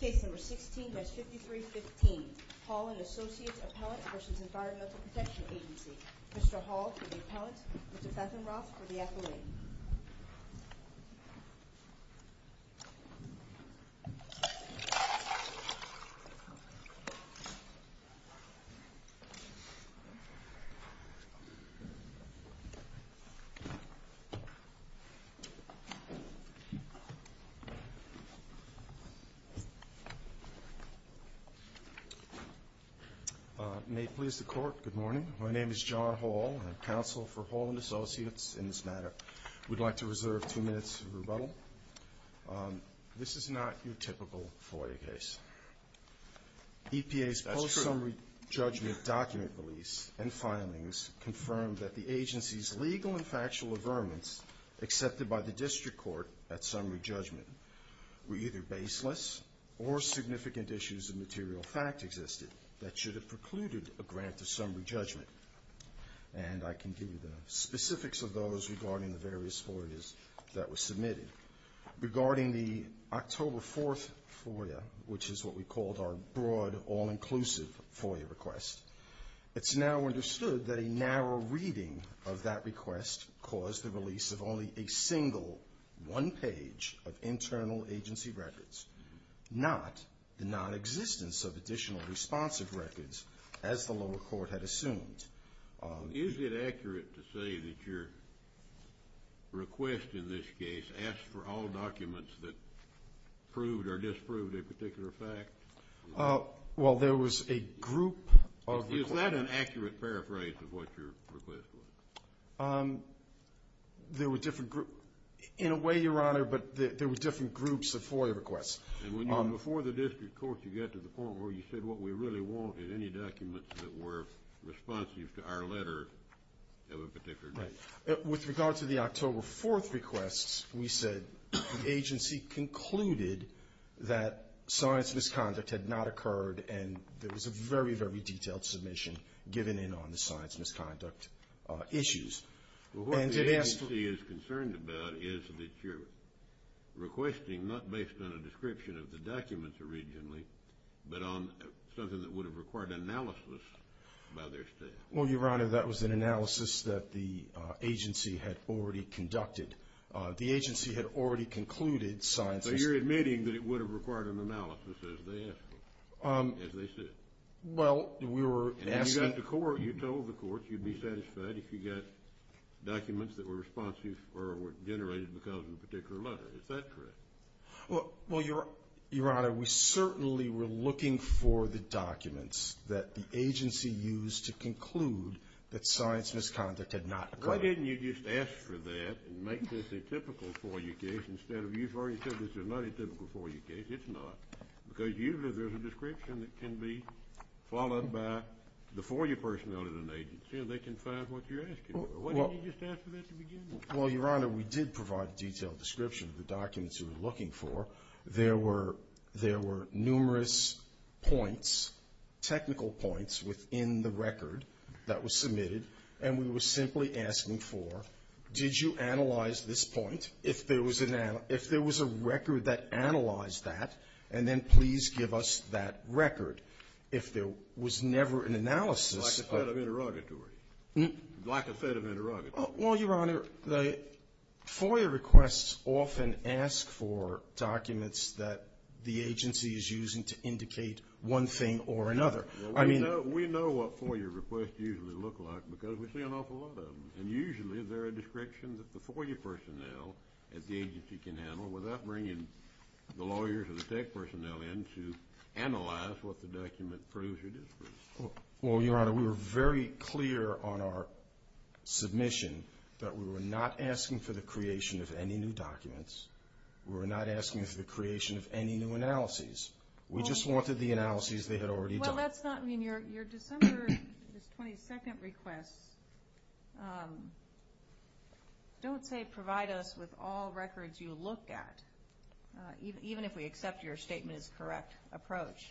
Case number 16-5315. Hall and Associates Appellant v. Environmental Protection Agency. Mr. Hall for the appellant, Mr. Fenton-Roth for the affilade. May it please the court, good morning. My name is John Hall. I'm counsel for Hall and Associates in this matter. We'd like to reserve two minutes of rebuttal. This is not your typical FOIA case. EPA's post-summary judgment document release and filings confirmed that the agency's legal and factual averments accepted by the district court at summary judgment were either baseless or significant issues of material fact existed that should have precluded a grant of summary judgment. And I can give you the specifics of those regarding the various FOIAs that were submitted. Regarding the October 4th FOIA, which is what we called our broad all-inclusive FOIA request, it's now understood that a narrow reading of that request caused the release of only a single one page of internal agency records, not the non-existence of additional responsive records as the lower court had assumed. Is it accurate to say that your request in this case asked for all documents that proved or disproved a particular fact? Well, there was a group of requests. Is that an accurate paraphrase of what your request was? There were different groups. In a way, Your Honor, but there were different groups of FOIA requests. And before the district court, you got to the point where you said what we really want is any documents that were responsive to our letter of a particular date. With regard to the October 4th requests, we said the agency concluded that science misconduct had not occurred, and there was a very, very detailed submission given in on the science misconduct issues. What the agency is concerned about is that you're requesting, not based on a description of the documents originally, but on something that would have required analysis by their staff. Well, Your Honor, that was an analysis that the agency had already conducted. The agency had already concluded science misconduct. So you're admitting that it would have required an analysis as they asked for it, as they said? Well, we were asking... And you told the court you'd be satisfied if you got documents that were responsive or were generated because of a particular letter. Is that correct? Well, Your Honor, we certainly were looking for the documents that the agency used to conclude that science misconduct had not occurred. Well, why didn't you just ask for that and make this atypical for your case instead of... You've already said this is not atypical for your case. It's not. Because usually there's a description that can be followed by the FOIA personnel at an agency, and they can find what you're asking for. Why didn't you just ask for that at the beginning? Well, Your Honor, we did provide a detailed description of the documents we were looking for. There were numerous points, technical points, within the record that was submitted. And we were simply asking for, did you analyze this point? If there was a record that analyzed that, and then please give us that record. If there was never an analysis... Lack of fed of interrogatory. Lack of fed of interrogatory. Well, Your Honor, the FOIA requests often ask for documents that the agency is using to indicate one thing or another. We know what FOIA requests usually look like because we see an awful lot of them. And usually there are descriptions that the FOIA personnel at the agency can handle without bringing the lawyers or the tech personnel in to analyze what the document proves or disproves. Well, Your Honor, we were very clear on our submission that we were not asking for the creation of any new documents. We were not asking for the creation of any new analyses. We just wanted the analyses they had already done. Well, that's not, I mean, your December 22nd requests don't say provide us with all records you look at, even if we accept your statement as a correct approach.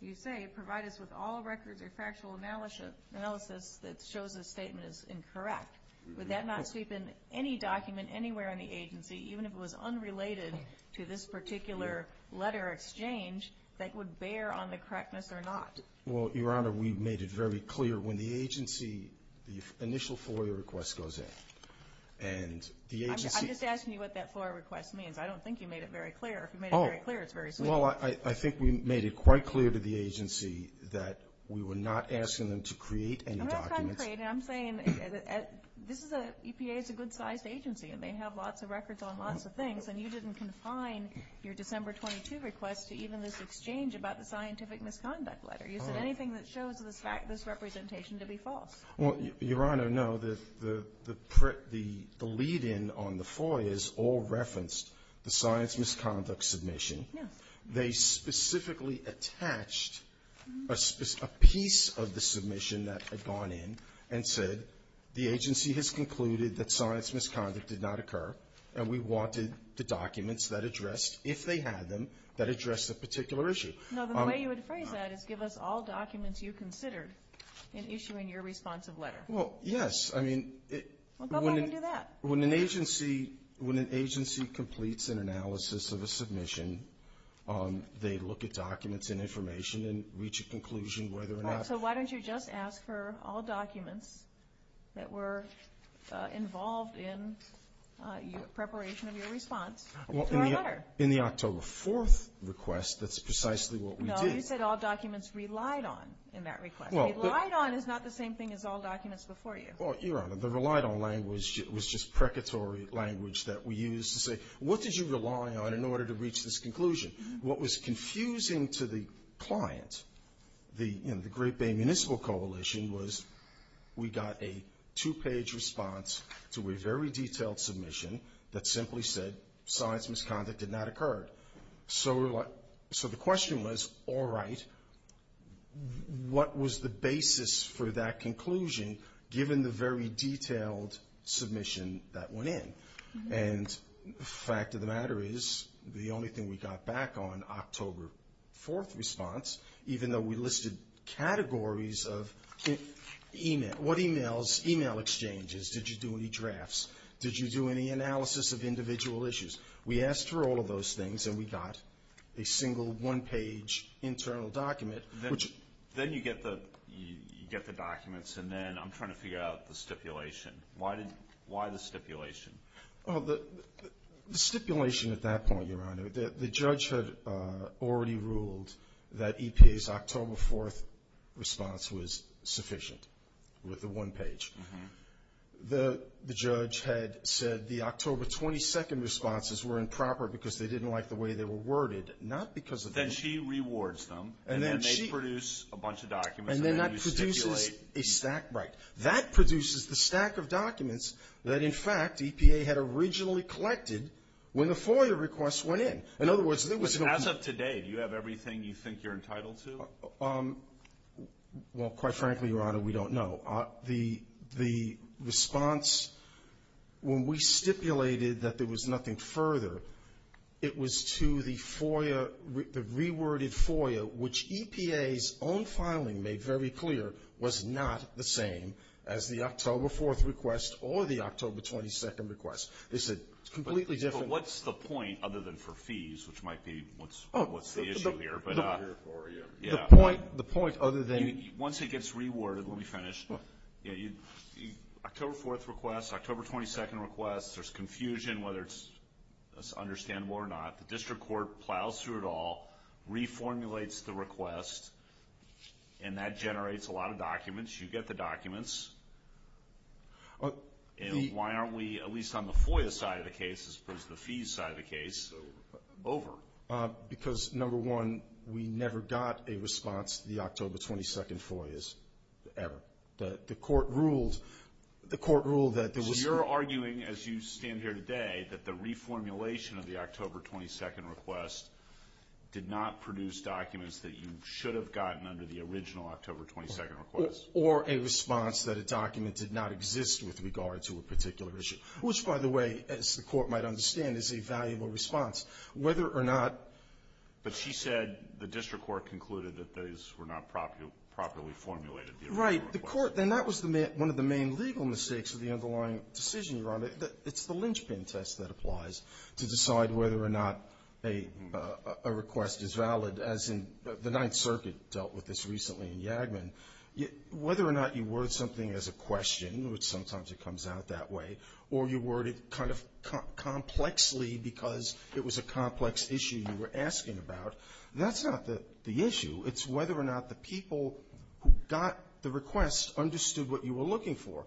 You say provide us with all records or factual analysis that shows the statement is incorrect. Would that not sweep in any document anywhere on the agency, even if it was unrelated to this particular letter exchange, that would bear on the correctness or not? Well, Your Honor, we made it very clear when the agency, the initial FOIA request goes in, and the agency... I'm just asking you what that FOIA request means. I don't think you made it very clear. If you made it very clear, it's very sweet. Well, I think we made it quite clear to the agency that we were not asking them to create any documents. I'm not saying create. I'm saying this is a, EPA is a good-sized agency, and they have lots of records on lots of things. And you didn't confine your December 22nd request to even this exchange about the scientific misconduct letter. You said anything that shows this representation to be false. Well, Your Honor, no. The lead-in on the FOIAs all referenced the science misconduct submission. They specifically attached a piece of the submission that had gone in and said, the agency has concluded that science misconduct did not occur, and we wanted the documents that addressed, if they had them, that addressed the particular issue. No, the way you would phrase that is give us all documents you considered in issuing your responsive letter. Well, yes. Well, go ahead and do that. When an agency completes an analysis of a submission, they look at documents and information and reach a conclusion whether or not. So why don't you just ask for all documents that were involved in preparation of your response to our letter? In the October 4th request, that's precisely what we did. No, you said all documents relied on in that request. Relying on is not the same thing as all documents before you. Well, Your Honor, the relied on language was just precatory language that we used to say, what did you rely on in order to reach this conclusion? What was confusing to the client in the Great Bay Municipal Coalition was we got a two-page response to a very detailed submission that simply said science misconduct did not occur. So the question was, all right, what was the basis for that conclusion, given the very detailed submission that went in? And the fact of the matter is the only thing we got back on October 4th response, even though we listed categories of email, what emails, email exchanges, did you do any drafts, did you do any analysis of individual issues? We asked for all of those things, and we got a single one-page internal document. Then you get the documents, and then I'm trying to figure out the stipulation. Why the stipulation? The stipulation at that point, Your Honor, the judge had already ruled that EPA's October 4th response was sufficient with the one page. The judge had said the October 22nd responses were improper because they didn't like the way they were worded, not because of the email. Then she rewards them, and then they produce a bunch of documents, and then you stipulate. And then that produces a stack, right. That produces the stack of documents that, in fact, EPA had originally collected when the FOIA requests went in. In other words, there was no point. As of today, do you have everything you think you're entitled to? Well, quite frankly, Your Honor, we don't know. The response, when we stipulated that there was nothing further, it was to the FOIA, the reworded FOIA, which EPA's own filing made very clear was not the same as the October 4th request or the October 22nd request. They said it's completely different. But what's the point, other than for fees, which might be what's the issue here? The point other than. Once it gets reworded, let me finish. October 4th request, October 22nd request, there's confusion whether it's understandable or not. The district court plows through it all, reformulates the request, and that generates a lot of documents. You get the documents. Why aren't we, at least on the FOIA side of the case, as opposed to the fees side of the case, over? Because, number one, we never got a response to the October 22nd FOIAs, ever. The court ruled that there was. So you're arguing, as you stand here today, that the reformulation of the October 22nd request did not produce documents that you should have gotten under the original October 22nd request? Or a response that a document did not exist with regard to a particular issue, which, by the way, as the court might understand, is a valuable response. Whether or not. But she said the district court concluded that those were not properly formulated. Right. The court. And that was one of the main legal mistakes of the underlying decision you're on. It's the linchpin test that applies to decide whether or not a request is valid, as in the Ninth Circuit dealt with this recently in Yagman. Whether or not you word something as a question, which sometimes it comes out that way, or you word it kind of complexly because it was a complex issue you were asking about, that's not the issue. It's whether or not the people who got the request understood what you were looking for.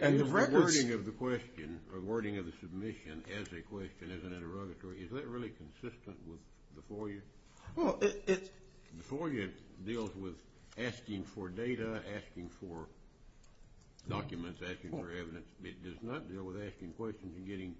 And the records. The wording of the question or wording of the submission as a question, as an interrogatory, is that really consistent with the FOIA? Well, it's. The FOIA deals with asking for data, asking for documents, asking for evidence. It does not deal with asking questions and getting,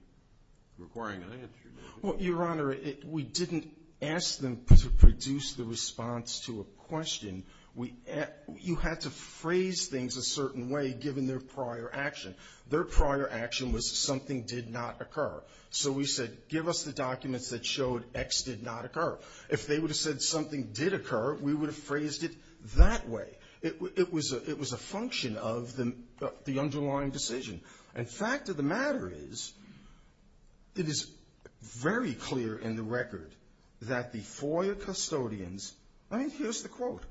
requiring an answer. Well, Your Honor, we didn't ask them to produce the response to a question. You had to phrase things a certain way given their prior action. Their prior action was something did not occur. So we said give us the documents that showed X did not occur. If they would have said something did occur, we would have phrased it that way. It was a function of the underlying decision. And the fact of the matter is it is very clear in the record that the FOIA custodians. I mean, here's the quote.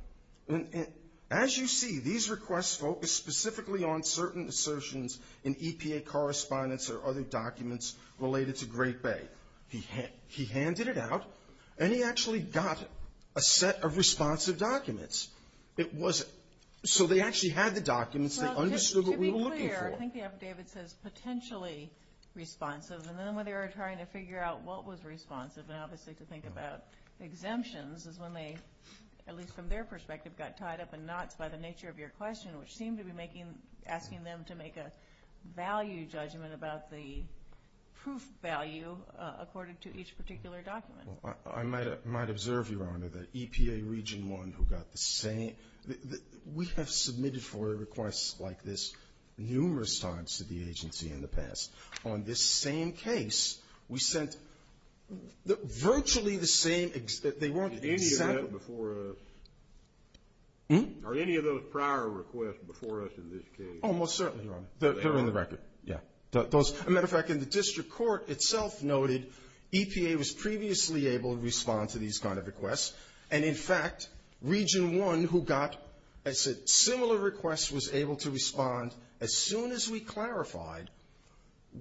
As you see, these requests focus specifically on certain assertions in EPA correspondence or other documents related to Great Bay. He handed it out, and he actually got a set of responsive documents. It wasn't. So they actually had the documents. They understood what we were looking for. Well, to be clear, I think the affidavit says potentially responsive. And then when they were trying to figure out what was responsive, and obviously to think about exemptions, is when they, at least from their perspective, got tied up in knots by the nature of your question, which seemed to be asking them to make a value judgment about the proof value according to each particular document. Well, I might observe, Your Honor, that EPA Region 1, who got the same, we have submitted FOIA requests like this numerous times to the agency in the past. On this same case, we sent virtually the same. They weren't exempt. Are any of those prior requests before us in this case? Oh, most certainly, Your Honor. They're in the record. Yeah. As a matter of fact, the district court itself noted EPA was previously able to respond to these kind of requests. And, in fact, Region 1, who got similar requests, was able to respond as soon as we clarified.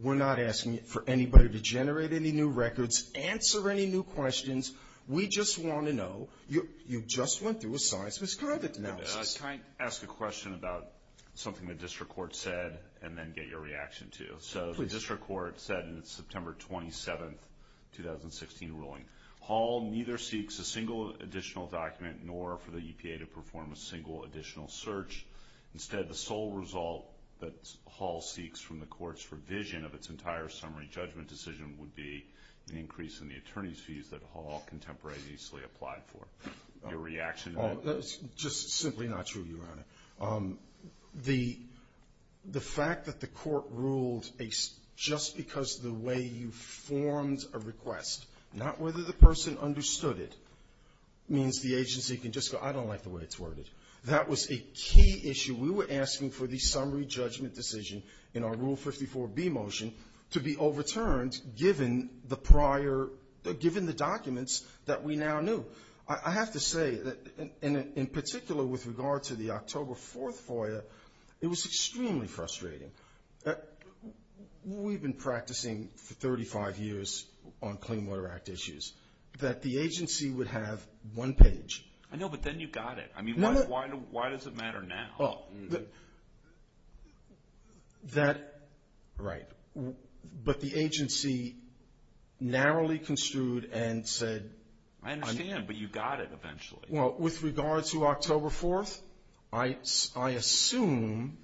We're not asking for anybody to generate any new records, answer any new questions. We just want to know. You just went through a science misconduct analysis. Can I ask a question about something the district court said and then get your reaction to? So the district court said in its September 27, 2016, ruling, Hall neither seeks a single additional document nor for the EPA to perform a single additional search. Instead, the sole result that Hall seeks from the court's revision of its entire summary judgment decision would be an increase in the attorney's fees that Hall contemporaneously applied for. Your reaction to that? Just simply not true, Your Honor. The fact that the court ruled just because of the way you formed a request, not whether the person understood it, means the agency can just go, I don't like the way it's worded. That was a key issue. We were asking for the summary judgment decision in our Rule 54B motion to be overturned given the prior — given the documents that we now knew. I have to say that in particular with regard to the October 4th FOIA, it was extremely frustrating. We've been practicing for 35 years on Clean Water Act issues, that the agency would have one page. I know, but then you got it. I mean, why does it matter now? Well, that — right. But the agency narrowly construed and said — I understand, but you got it eventually. Well, with regard to October 4th, I assume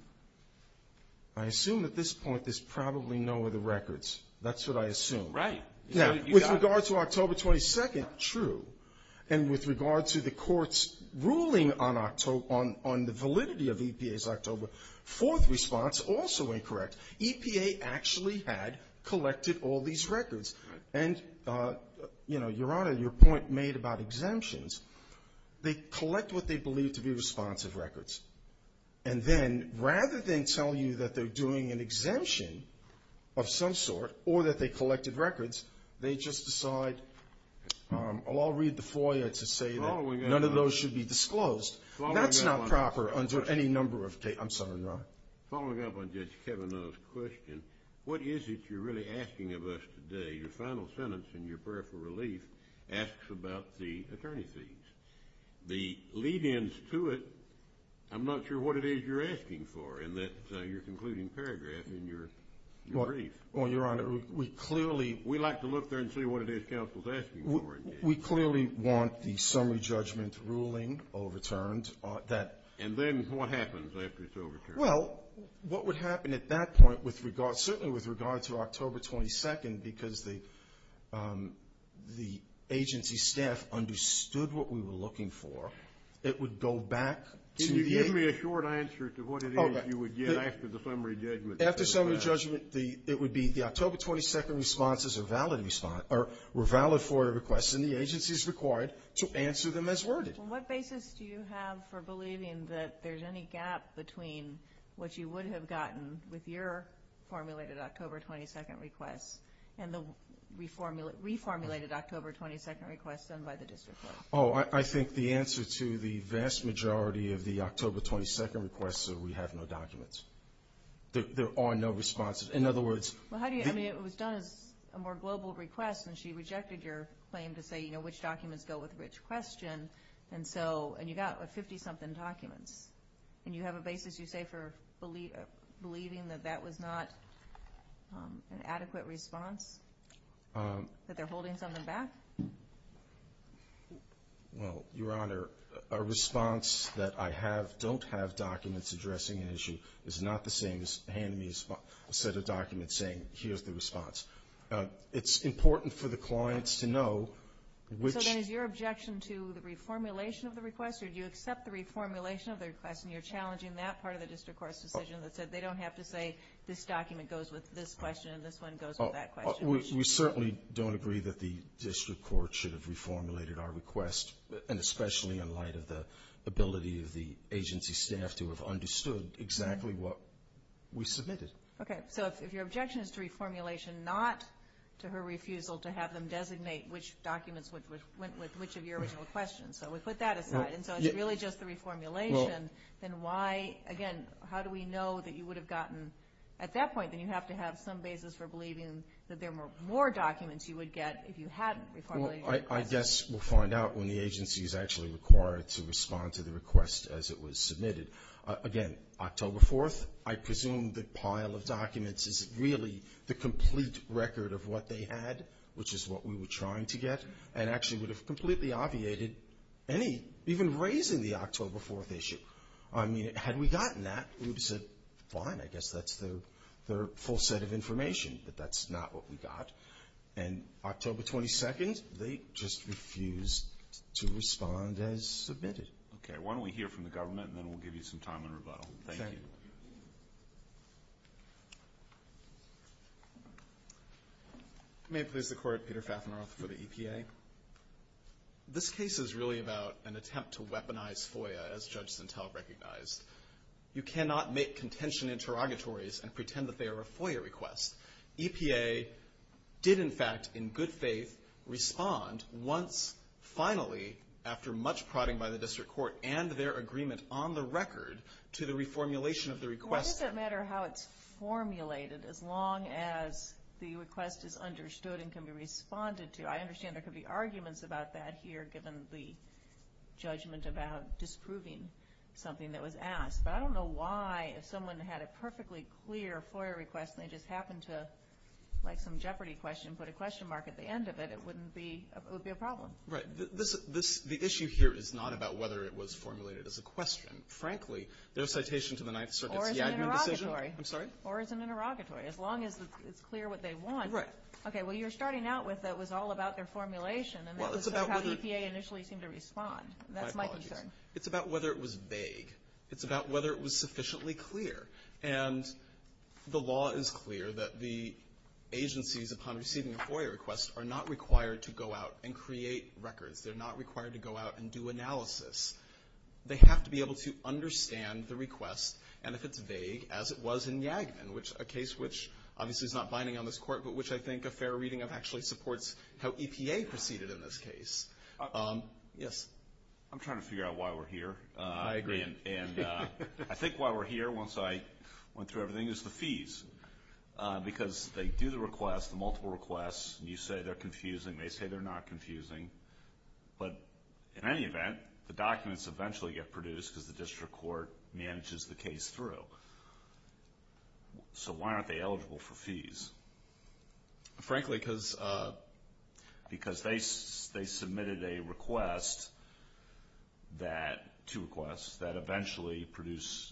— I assume at this point there's probably no other records. That's what I assume. Right. Now, with regard to October 22nd, true. And with regard to the court's ruling on October — on the validity of EPA's October 4th response, also incorrect. EPA actually had collected all these records. Right. And, you know, Your Honor, your point made about exemptions, they collect what they believe to be responsive records. And then rather than tell you that they're doing an exemption of some sort or that they collected records, they just decide, I'll read the FOIA to say that none of those should be disclosed. That's not proper under any number of — I'm sorry, Your Honor. Following up on Judge Kavanaugh's question, what is it you're really asking of us today? Your final sentence in your prayer for relief asks about the attorney fees. The lead-ins to it, I'm not sure what it is you're asking for in that concluding paragraph in your brief. Well, Your Honor, we clearly — We'd like to look there and see what it is counsel's asking for. We clearly want the summary judgment ruling overturned. And then what happens after it's overturned? Well, what would happen at that point with regard — because the agency staff understood what we were looking for, it would go back to the — Can you give me a short answer to what it is you would get after the summary judgment? After summary judgment, it would be the October 22nd responses were valid FOIA requests, and the agency is required to answer them as worded. On what basis do you have for believing that there's any gap between what you would have gotten with your formulated October 22nd requests and the reformulated October 22nd requests done by the district court? Oh, I think the answer to the vast majority of the October 22nd requests is we have no documents. There are no responses. In other words — Well, how do you — I mean, it was done as a more global request, and she rejected your claim to say, you know, which documents go with which question. And so — and you got 50-something documents. And you have a basis, you say, for believing that that was not an adequate response, that they're holding something back? Well, Your Honor, a response that I have don't have documents addressing an issue is not the same as handing me a set of documents saying, here's the response. It's important for the clients to know which — So then is your objection to the reformulation of the request, or do you accept the reformulation of the request, and you're challenging that part of the district court's decision that said they don't have to say this document goes with this question and this one goes with that question? We certainly don't agree that the district court should have reformulated our request, and especially in light of the ability of the agency staff to have understood exactly what we submitted. Okay. So if your objection is to reformulation, not to her refusal to have them designate which documents went with which of your original questions. So we put that aside. And so it's really just the reformulation. Then why — again, how do we know that you would have gotten — at that point, then you have to have some basis for believing that there were more documents you would get if you hadn't reformulated your request. Well, I guess we'll find out when the agency is actually required to respond to the request as it was submitted. Again, October 4th, I presume the pile of documents is really the complete record of what they had, which is what we were trying to get, and actually would have completely obviated any — even raising the October 4th issue. I mean, had we gotten that, we would have said, fine, I guess that's their full set of information, but that's not what we got. And October 22nd, they just refused to respond as submitted. Okay. Why don't we hear from the government, and then we'll give you some time in rebuttal. Thank you. Thank you. Thank you. May it please the Court, Peter Fafneroth for the EPA. This case is really about an attempt to weaponize FOIA, as Judge Sintel recognized. You cannot make contention interrogatories and pretend that they are a FOIA request. EPA did, in fact, in good faith, respond once, finally, after much prodding by the district court and their agreement on the record to the reformulation of the request. Why does it matter how it's formulated as long as the request is understood and can be responded to? I understand there could be arguments about that here, given the judgment about disproving something that was asked, but I don't know why if someone had a perfectly clear FOIA request and they just happened to, like some Jeopardy question, put a question mark at the end of it, it wouldn't be a problem. Right. The issue here is not about whether it was formulated as a question. Frankly, their citation to the Ninth Circuit is a decision. Or as an interrogatory. I'm sorry? Or as an interrogatory. As long as it's clear what they want. Right. Okay. Well, you're starting out with it was all about their formulation, and that was sort of how EPA initially seemed to respond. That's my concern. My apologies. It's about whether it was vague. It's about whether it was sufficiently clear. And the law is clear that the agencies, upon receiving a FOIA request, are not required to go out and create records. They're not required to go out and do analysis. They have to be able to understand the request, and if it's vague, as it was in Yagman, a case which obviously is not binding on this Court, but which I think a fair reading of actually supports how EPA proceeded in this case. Yes? I'm trying to figure out why we're here. I agree. Because they do the request, the multiple requests, and you say they're confusing. They say they're not confusing. But in any event, the documents eventually get produced because the district court manages the case through. So why aren't they eligible for fees? Frankly, because they submitted a request, two requests, that eventually produce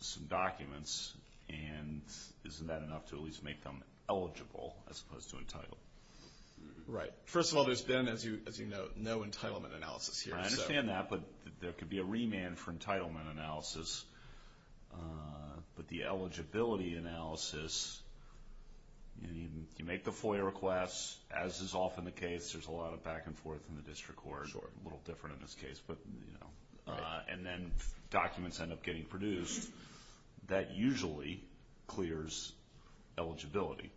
some documents, and isn't that enough to at least make them eligible as opposed to entitled? Right. First of all, there's been, as you note, no entitlement analysis here. I understand that, but there could be a remand for entitlement analysis. But the eligibility analysis, you make the FOIA request, as is often the case. There's a lot of back and forth in the district court, a little different in this case. And then documents end up getting produced. That usually clears eligibility.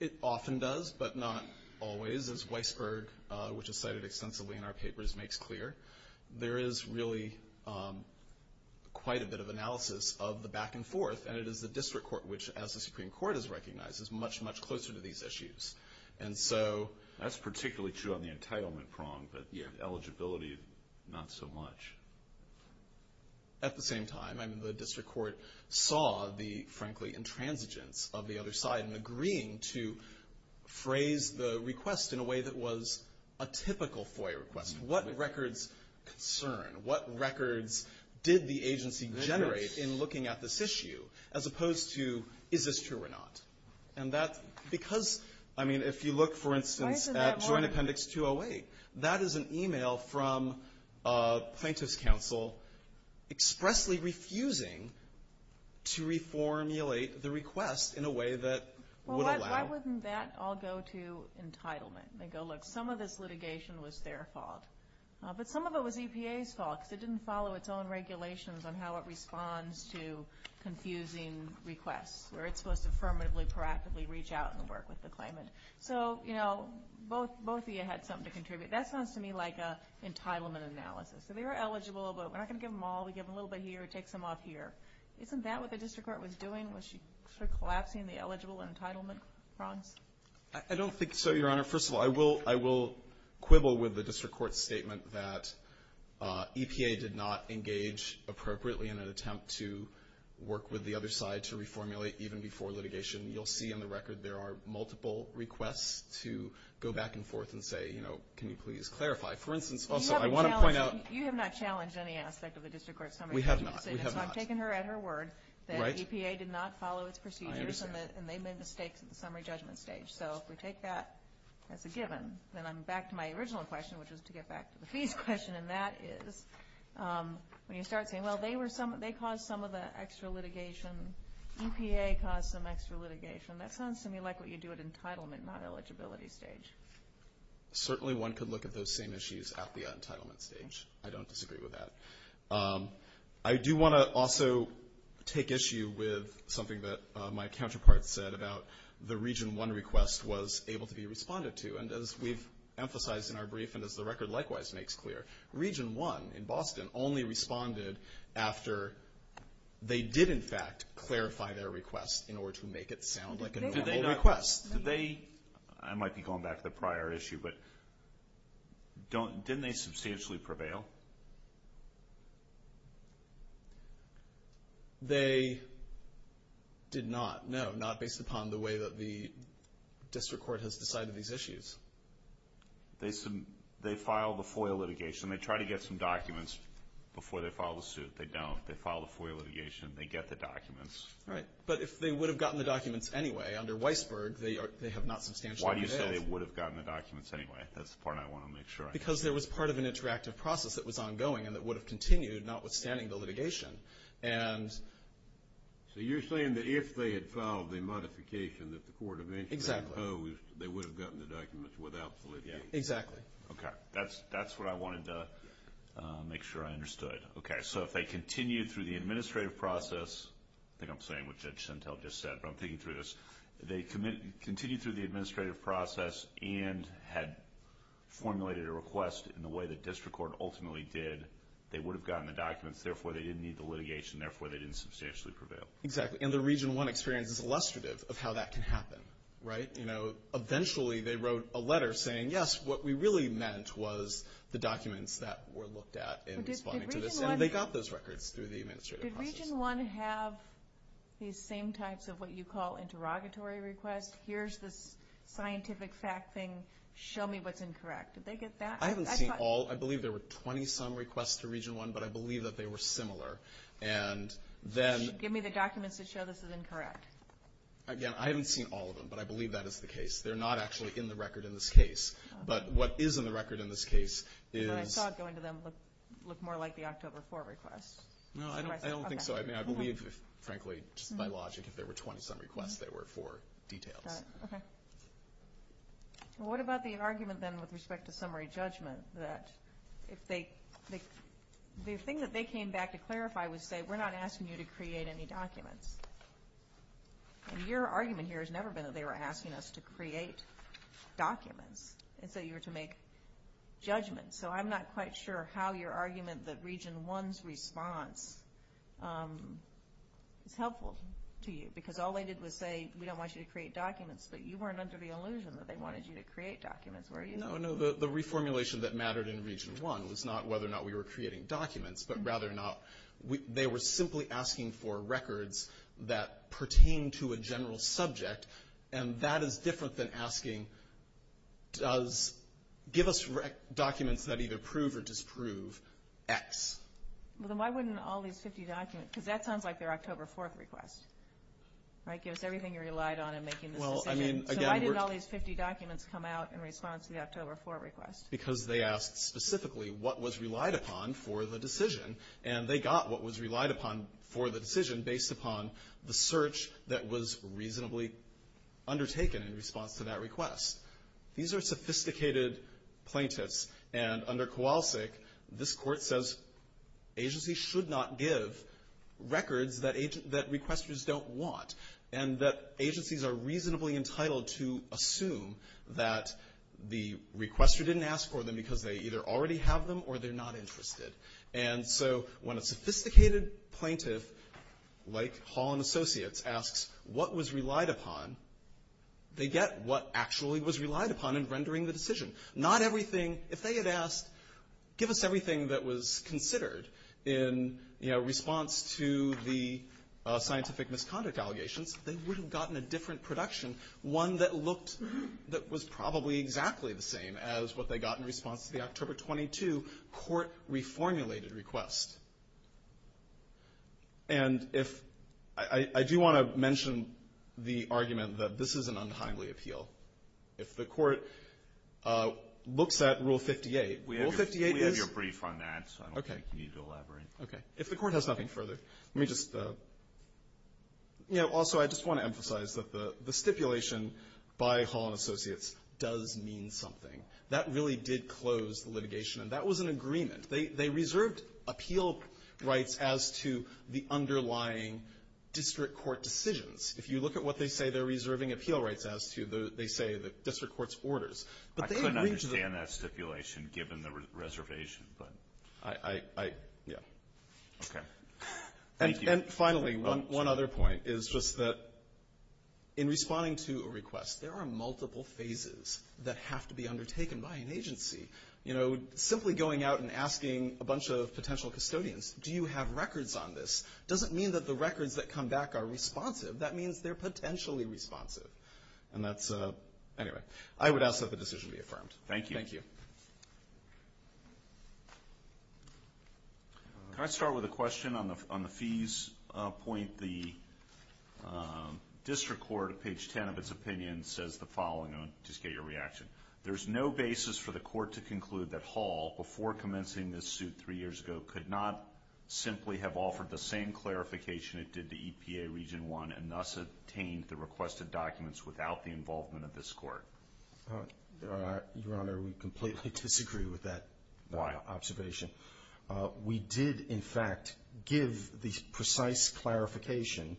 It often does, but not always, as Weisberg, which is cited extensively in our papers, makes clear. There is really quite a bit of analysis of the back and forth, and it is the district court, which, as the Supreme Court has recognized, is much, much closer to these issues. That's particularly true on the entitlement prong, but eligibility, not so much. At the same time, the district court saw the, frankly, intransigence of the other side in agreeing to phrase the request in a way that was a typical FOIA request. What records concern? What records did the agency generate in looking at this issue, as opposed to, is this true or not? And that's because, I mean, if you look, for instance, at Joint Appendix 208, that is an email from a plaintiff's counsel expressly refusing to reformulate the request in a way that would allow. Well, why wouldn't that all go to entitlement? They go, look, some of this litigation was their fault, but some of it was EPA's fault because it didn't follow its own regulations on how it responds to confusing requests where it's supposed to affirmatively, proactively reach out and work with the claimant. So, you know, both of you had something to contribute. That sounds to me like an entitlement analysis. So they were eligible, but we're not going to give them all. We give them a little bit here, take some off here. Isn't that what the district court was doing? Was she sort of collapsing the eligible and entitlement prongs? I don't think so, Your Honor. First of all, I will quibble with the district court's statement that EPA did not engage appropriately in an attempt to work with the other side to reformulate even before litigation. You'll see in the record there are multiple requests to go back and forth and say, you know, can you please clarify? For instance, also, I want to point out. You have not challenged any aspect of the district court's summary judgment statement. We have not. We have not. So I'm taking her at her word that EPA did not follow its procedures. I understand. And they made mistakes in the summary judgment stage. So if we take that as a given, then I'm back to my original question, which was to get back to the fees question, and that is when you start saying, well, they caused some of the extra litigation. EPA caused some extra litigation. That sounds to me like what you do at entitlement, not eligibility stage. Certainly one could look at those same issues at the entitlement stage. I don't disagree with that. I do want to also take issue with something that my counterpart said about the Region 1 request was able to be responded to. And as we've emphasized in our brief and as the record likewise makes clear, Region 1 in Boston only responded after they did, in fact, clarify their request in order to make it sound like a normal request. Did they? I might be going back to the prior issue, but didn't they substantially prevail? They did not, no, not based upon the way that the district court has decided these issues. They filed the FOIA litigation. They try to get some documents before they file the suit. They don't. They file the FOIA litigation. They get the documents. Right. But if they would have gotten the documents anyway under Weisberg, they have not substantially prevailed. Why do you say they would have gotten the documents anyway? That's the part I want to make sure I get. Because there was part of an interactive process that was ongoing and that would have continued notwithstanding the litigation. So you're saying that if they had filed the modification that the court eventually imposed, they would have gotten the documents without litigation. Exactly. Okay. That's what I wanted to make sure I understood. Okay. So if they continued through the administrative process, I think I'm saying what Judge Sentell just said, but I'm thinking through this. If they continued through the administrative process and had formulated a request in the way the district court ultimately did, they would have gotten the documents. Therefore, they didn't need the litigation. Therefore, they didn't substantially prevail. Exactly. And the Region 1 experience is illustrative of how that can happen, right? You know, eventually they wrote a letter saying, yes, what we really meant was the documents that were looked at in responding to this. And they got those records through the administrative process. Did Region 1 have these same types of what you call interrogatory requests? Here's this scientific fact thing. Show me what's incorrect. Did they get that? I haven't seen all. I believe there were 20-some requests to Region 1, but I believe that they were similar. Give me the documents that show this is incorrect. Again, I haven't seen all of them, but I believe that is the case. They're not actually in the record in this case. But what is in the record in this case is – Because I saw it going to them look more like the October 4 request. No, I don't think so. I mean, I believe, frankly, just by logic, if there were 20-some requests, they were for details. Okay. Well, what about the argument, then, with respect to summary judgment, that if they – the thing that they came back to clarify was say, we're not asking you to create any documents. And your argument here has never been that they were asking us to create documents and say you were to make judgments. So I'm not quite sure how your argument that Region 1's response is helpful to you. Because all they did was say, we don't want you to create documents. But you weren't under the illusion that they wanted you to create documents, were you? No, no, the reformulation that mattered in Region 1 was not whether or not we were creating documents, but rather not. They were simply asking for records that pertain to a general subject. And that is different than asking, give us documents that either prove or disprove X. Well, then why wouldn't all these 50 documents – because that sounds like their October 4 request, right? Give us everything you relied on in making this decision. So why didn't all these 50 documents come out in response to the October 4 request? Because they asked specifically what was relied upon for the decision. And they got what was relied upon for the decision based upon the search that was reasonably undertaken in response to that request. These are sophisticated plaintiffs. And under Kowalsik, this Court says agencies should not give records that requesters don't want, and that agencies are reasonably entitled to assume that the requester didn't ask for them because they either already have them or they're not interested. And so when a sophisticated plaintiff, like Hall and Associates, asks what was relied upon, they get what actually was relied upon in rendering the decision. Not everything – if they had asked, give us everything that was considered in response to the scientific misconduct allegations, they would have gotten a different production, one that looked – that was probably exactly the same as what they got in response to the October 22 court-reformulated request. And if – I do want to mention the argument that this is an untimely appeal. If the Court looks at Rule 58, Rule 58 is – We have your brief on that, so I don't think you need to elaborate. Okay. If the Court has nothing further, let me just – you know, also I just want to emphasize that the stipulation by Hall and Associates does mean something. That really did close the litigation, and that was an agreement. They reserved appeal rights as to the underlying district court decisions. If you look at what they say they're reserving appeal rights as to the – they say the district court's orders. But they agreed to the – I couldn't understand that stipulation given the reservation, but – Yeah. Okay. Thank you. And finally, one other point is just that in responding to a request, there are multiple phases that have to be undertaken by an agency. You know, simply going out and asking a bunch of potential custodians, do you have records on this, doesn't mean that the records that come back are responsive. That means they're potentially responsive. And that's – anyway, I would ask that the decision be affirmed. Thank you. Thank you. Can I start with a question on the fees point? The district court, page 10 of its opinion, says the following – just get your reaction. There's no basis for the court to conclude that Hall, before commencing this suit three years ago, could not simply have offered the same clarification it did to EPA Region 1 and thus obtained the requested documents without the involvement of this court. Your Honor, we completely disagree with that observation. We did, in fact, give the precise clarification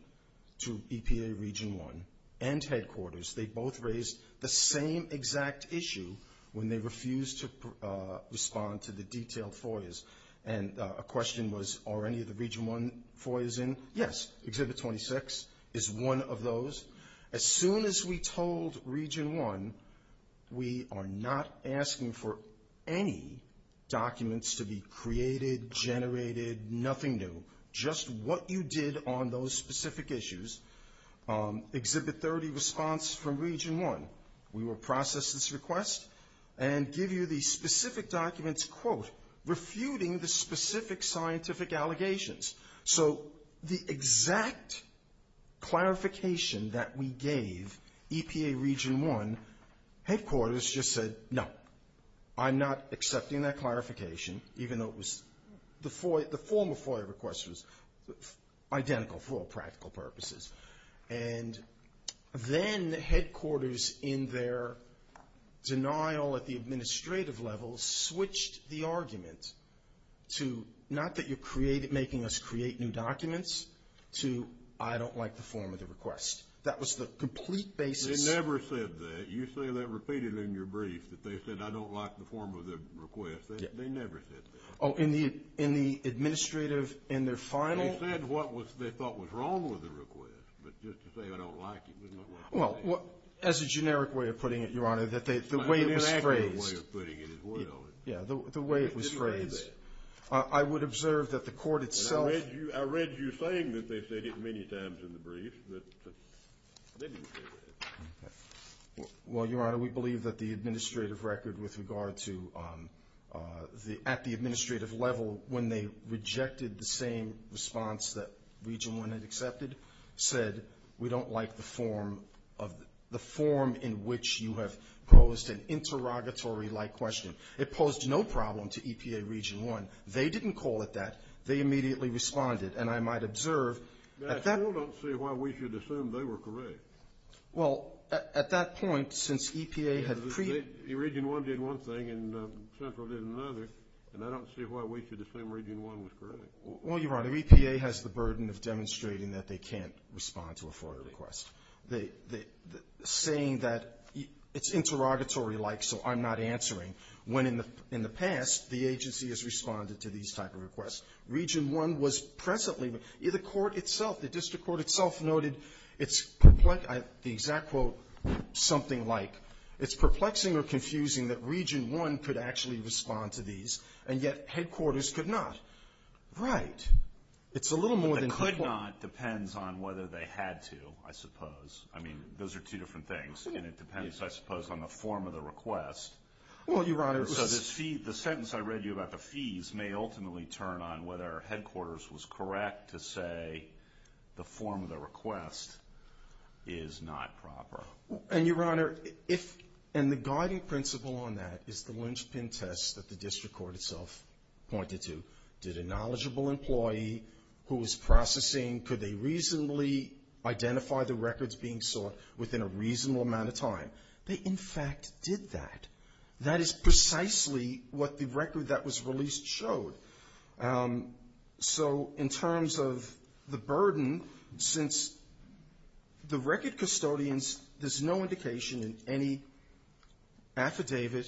to EPA Region 1 and headquarters. They both raised the same exact issue when they refused to respond to the detailed FOIAs. And a question was, are any of the Region 1 FOIAs in? Yes, Exhibit 26 is one of those. As soon as we told Region 1 we are not asking for any documents to be created, generated, nothing new, just what you did on those specific issues, Exhibit 30 responds from Region 1. We will process this request and give you the specific documents, quote, refuting the specific scientific allegations. So the exact clarification that we gave EPA Region 1, headquarters just said no. I'm not accepting that clarification, even though it was – the former FOIA request was identical for all practical purposes. And then headquarters, in their denial at the administrative level, switched the argument to not that you're making us create new documents, to I don't like the form of the request. That was the complete basis. They never said that. You say that repeated in your brief, that they said I don't like the form of the request. They never said that. Oh, in the administrative, in their final? They said what they thought was wrong with the request. But just to say I don't like it doesn't look like they did. Well, as a generic way of putting it, Your Honor, the way it was phrased. Yeah, the way it was phrased. I would observe that the court itself – I read you saying that they said it many times in the brief, that they didn't say that. Well, Your Honor, we believe that the administrative record with regard to the – at the administrative level, when they rejected the same response that Region 1 had accepted, said we don't like the form of – the form in which you have posed an interrogatory-like question. It posed no problem to EPA Region 1. They didn't call it that. They immediately responded. And I might observe at that – I still don't see why we should assume they were correct. Well, at that point, since EPA had – Region 1 did one thing, and Central did another. And I don't see why we should assume Region 1 was correct. Well, Your Honor, EPA has the burden of demonstrating that they can't respond to a FOIA request. They – saying that it's interrogatory-like, so I'm not answering, when in the past the agency has responded to these type of requests. Region 1 was presently – the court itself, the district court itself noted it's – the exact quote, something like, it's perplexing or confusing that Region 1 could actually respond to these, and yet headquarters could not. Right. It's a little more than It could not depends on whether they had to, I suppose. I mean, those are two different things. And it depends, I suppose, on the form of the request. Well, Your Honor – So this fee – the sentence I read you about the fees may ultimately turn on whether headquarters was correct to say the form of the request is not proper. And, Your Honor, if – and the guiding principle on that is the lynchpin test that the district court itself pointed to. Did a knowledgeable employee who was processing, could they reasonably identify the records being sought within a reasonable amount of time? They, in fact, did that. That is precisely what the record that was released showed. So in terms of the burden, since the record custodians, there's no indication in any affidavit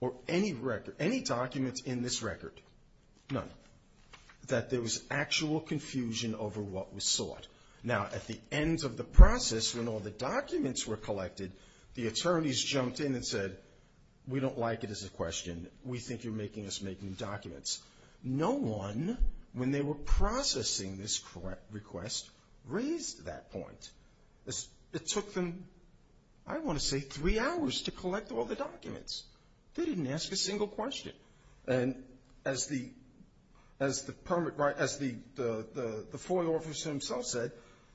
or any record – any documents in this record, none, that there was actual confusion over what was sought. Now, at the end of the process, when all the documents were collected, the attorneys jumped in and said, we don't like it as a question. We think you're making us make new documents. No one, when they were processing this request, raised that point. It took them, I want to say, three hours to collect all the documents. They didn't ask a single question. And as the – as the permit – as the FOIA officer himself said,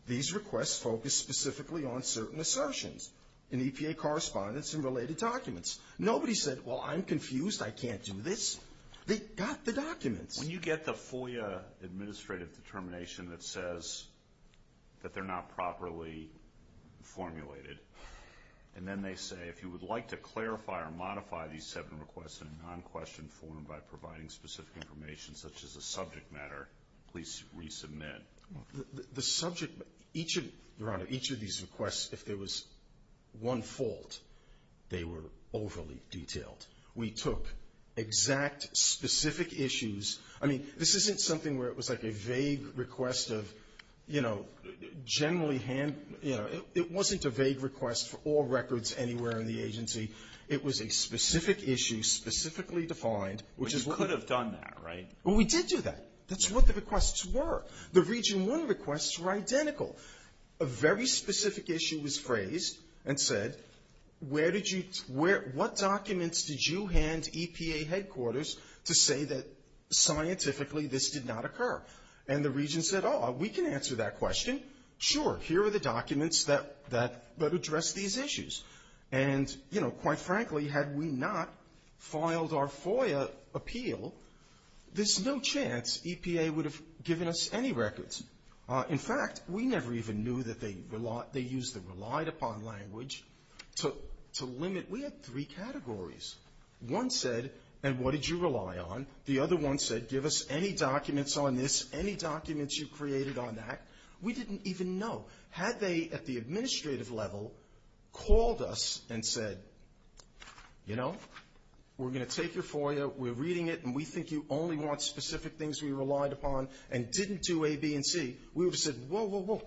these requests focused specifically on certain assertions in EPA correspondence and related documents. Nobody said, well, I'm confused. I can't do this. They got the documents. When you get the FOIA administrative determination that says that they're not properly formulated, and then they say, if you would like to clarify or modify these seven requests in a non-question form by providing specific information such as a subject matter, please resubmit. The subject – each of – Your Honor, each of these requests, if there was one fault, they were overly detailed. We took exact, specific issues. I mean, this isn't something where it was like a vague request of, you know, generally hand – you know, it wasn't a vague request for all records anywhere in the agency. It was a specific issue, specifically defined, which is what – Which could have done that, right? Well, we did do that. That's what the requests were. The Region I requests were identical. A very specific issue was phrased and said, where did you – what documents did you hand EPA headquarters to say that scientifically this did not occur? And the Region said, oh, we can answer that question. Sure. Here are the documents that address these issues. And, you know, quite frankly, had we not filed our FOIA appeal, there's no chance EPA would have given us any records. In fact, we never even knew that they used the relied upon language to limit – we had three categories. One said, and what did you rely on? The other one said, give us any documents on this, any documents you created on that. We didn't even know. Had they, at the administrative level, called us and said, you know, we're going to take your FOIA, we're reading it, and we think you only want specific things we relied upon and didn't do A, B, and C, we would have said, whoa, whoa, whoa,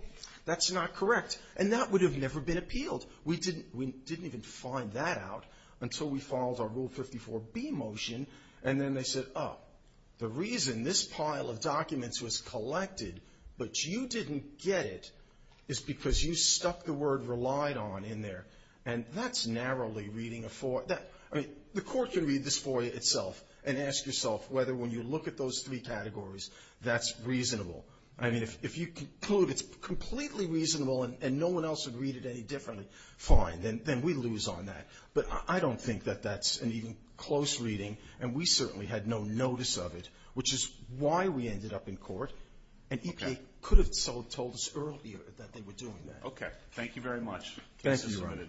that's not correct. And that would have never been appealed. We didn't even find that out until we filed our Rule 54B motion. And then they said, oh, the reason this pile of documents was collected but you didn't get it is because you stuck the word relied on in there. And that's narrowly reading a FOIA. I mean, the Court can read this FOIA itself and ask yourself whether, when you look at those three categories, that's reasonable. I mean, if you conclude it's completely reasonable and no one else would read it any differently, fine, then we lose on that. But I don't think that that's an even close reading, and we certainly had no notice of it, which is why we ended up in court, and EPA could have told us earlier that they were doing that. Okay. Thank you very much. Thank you.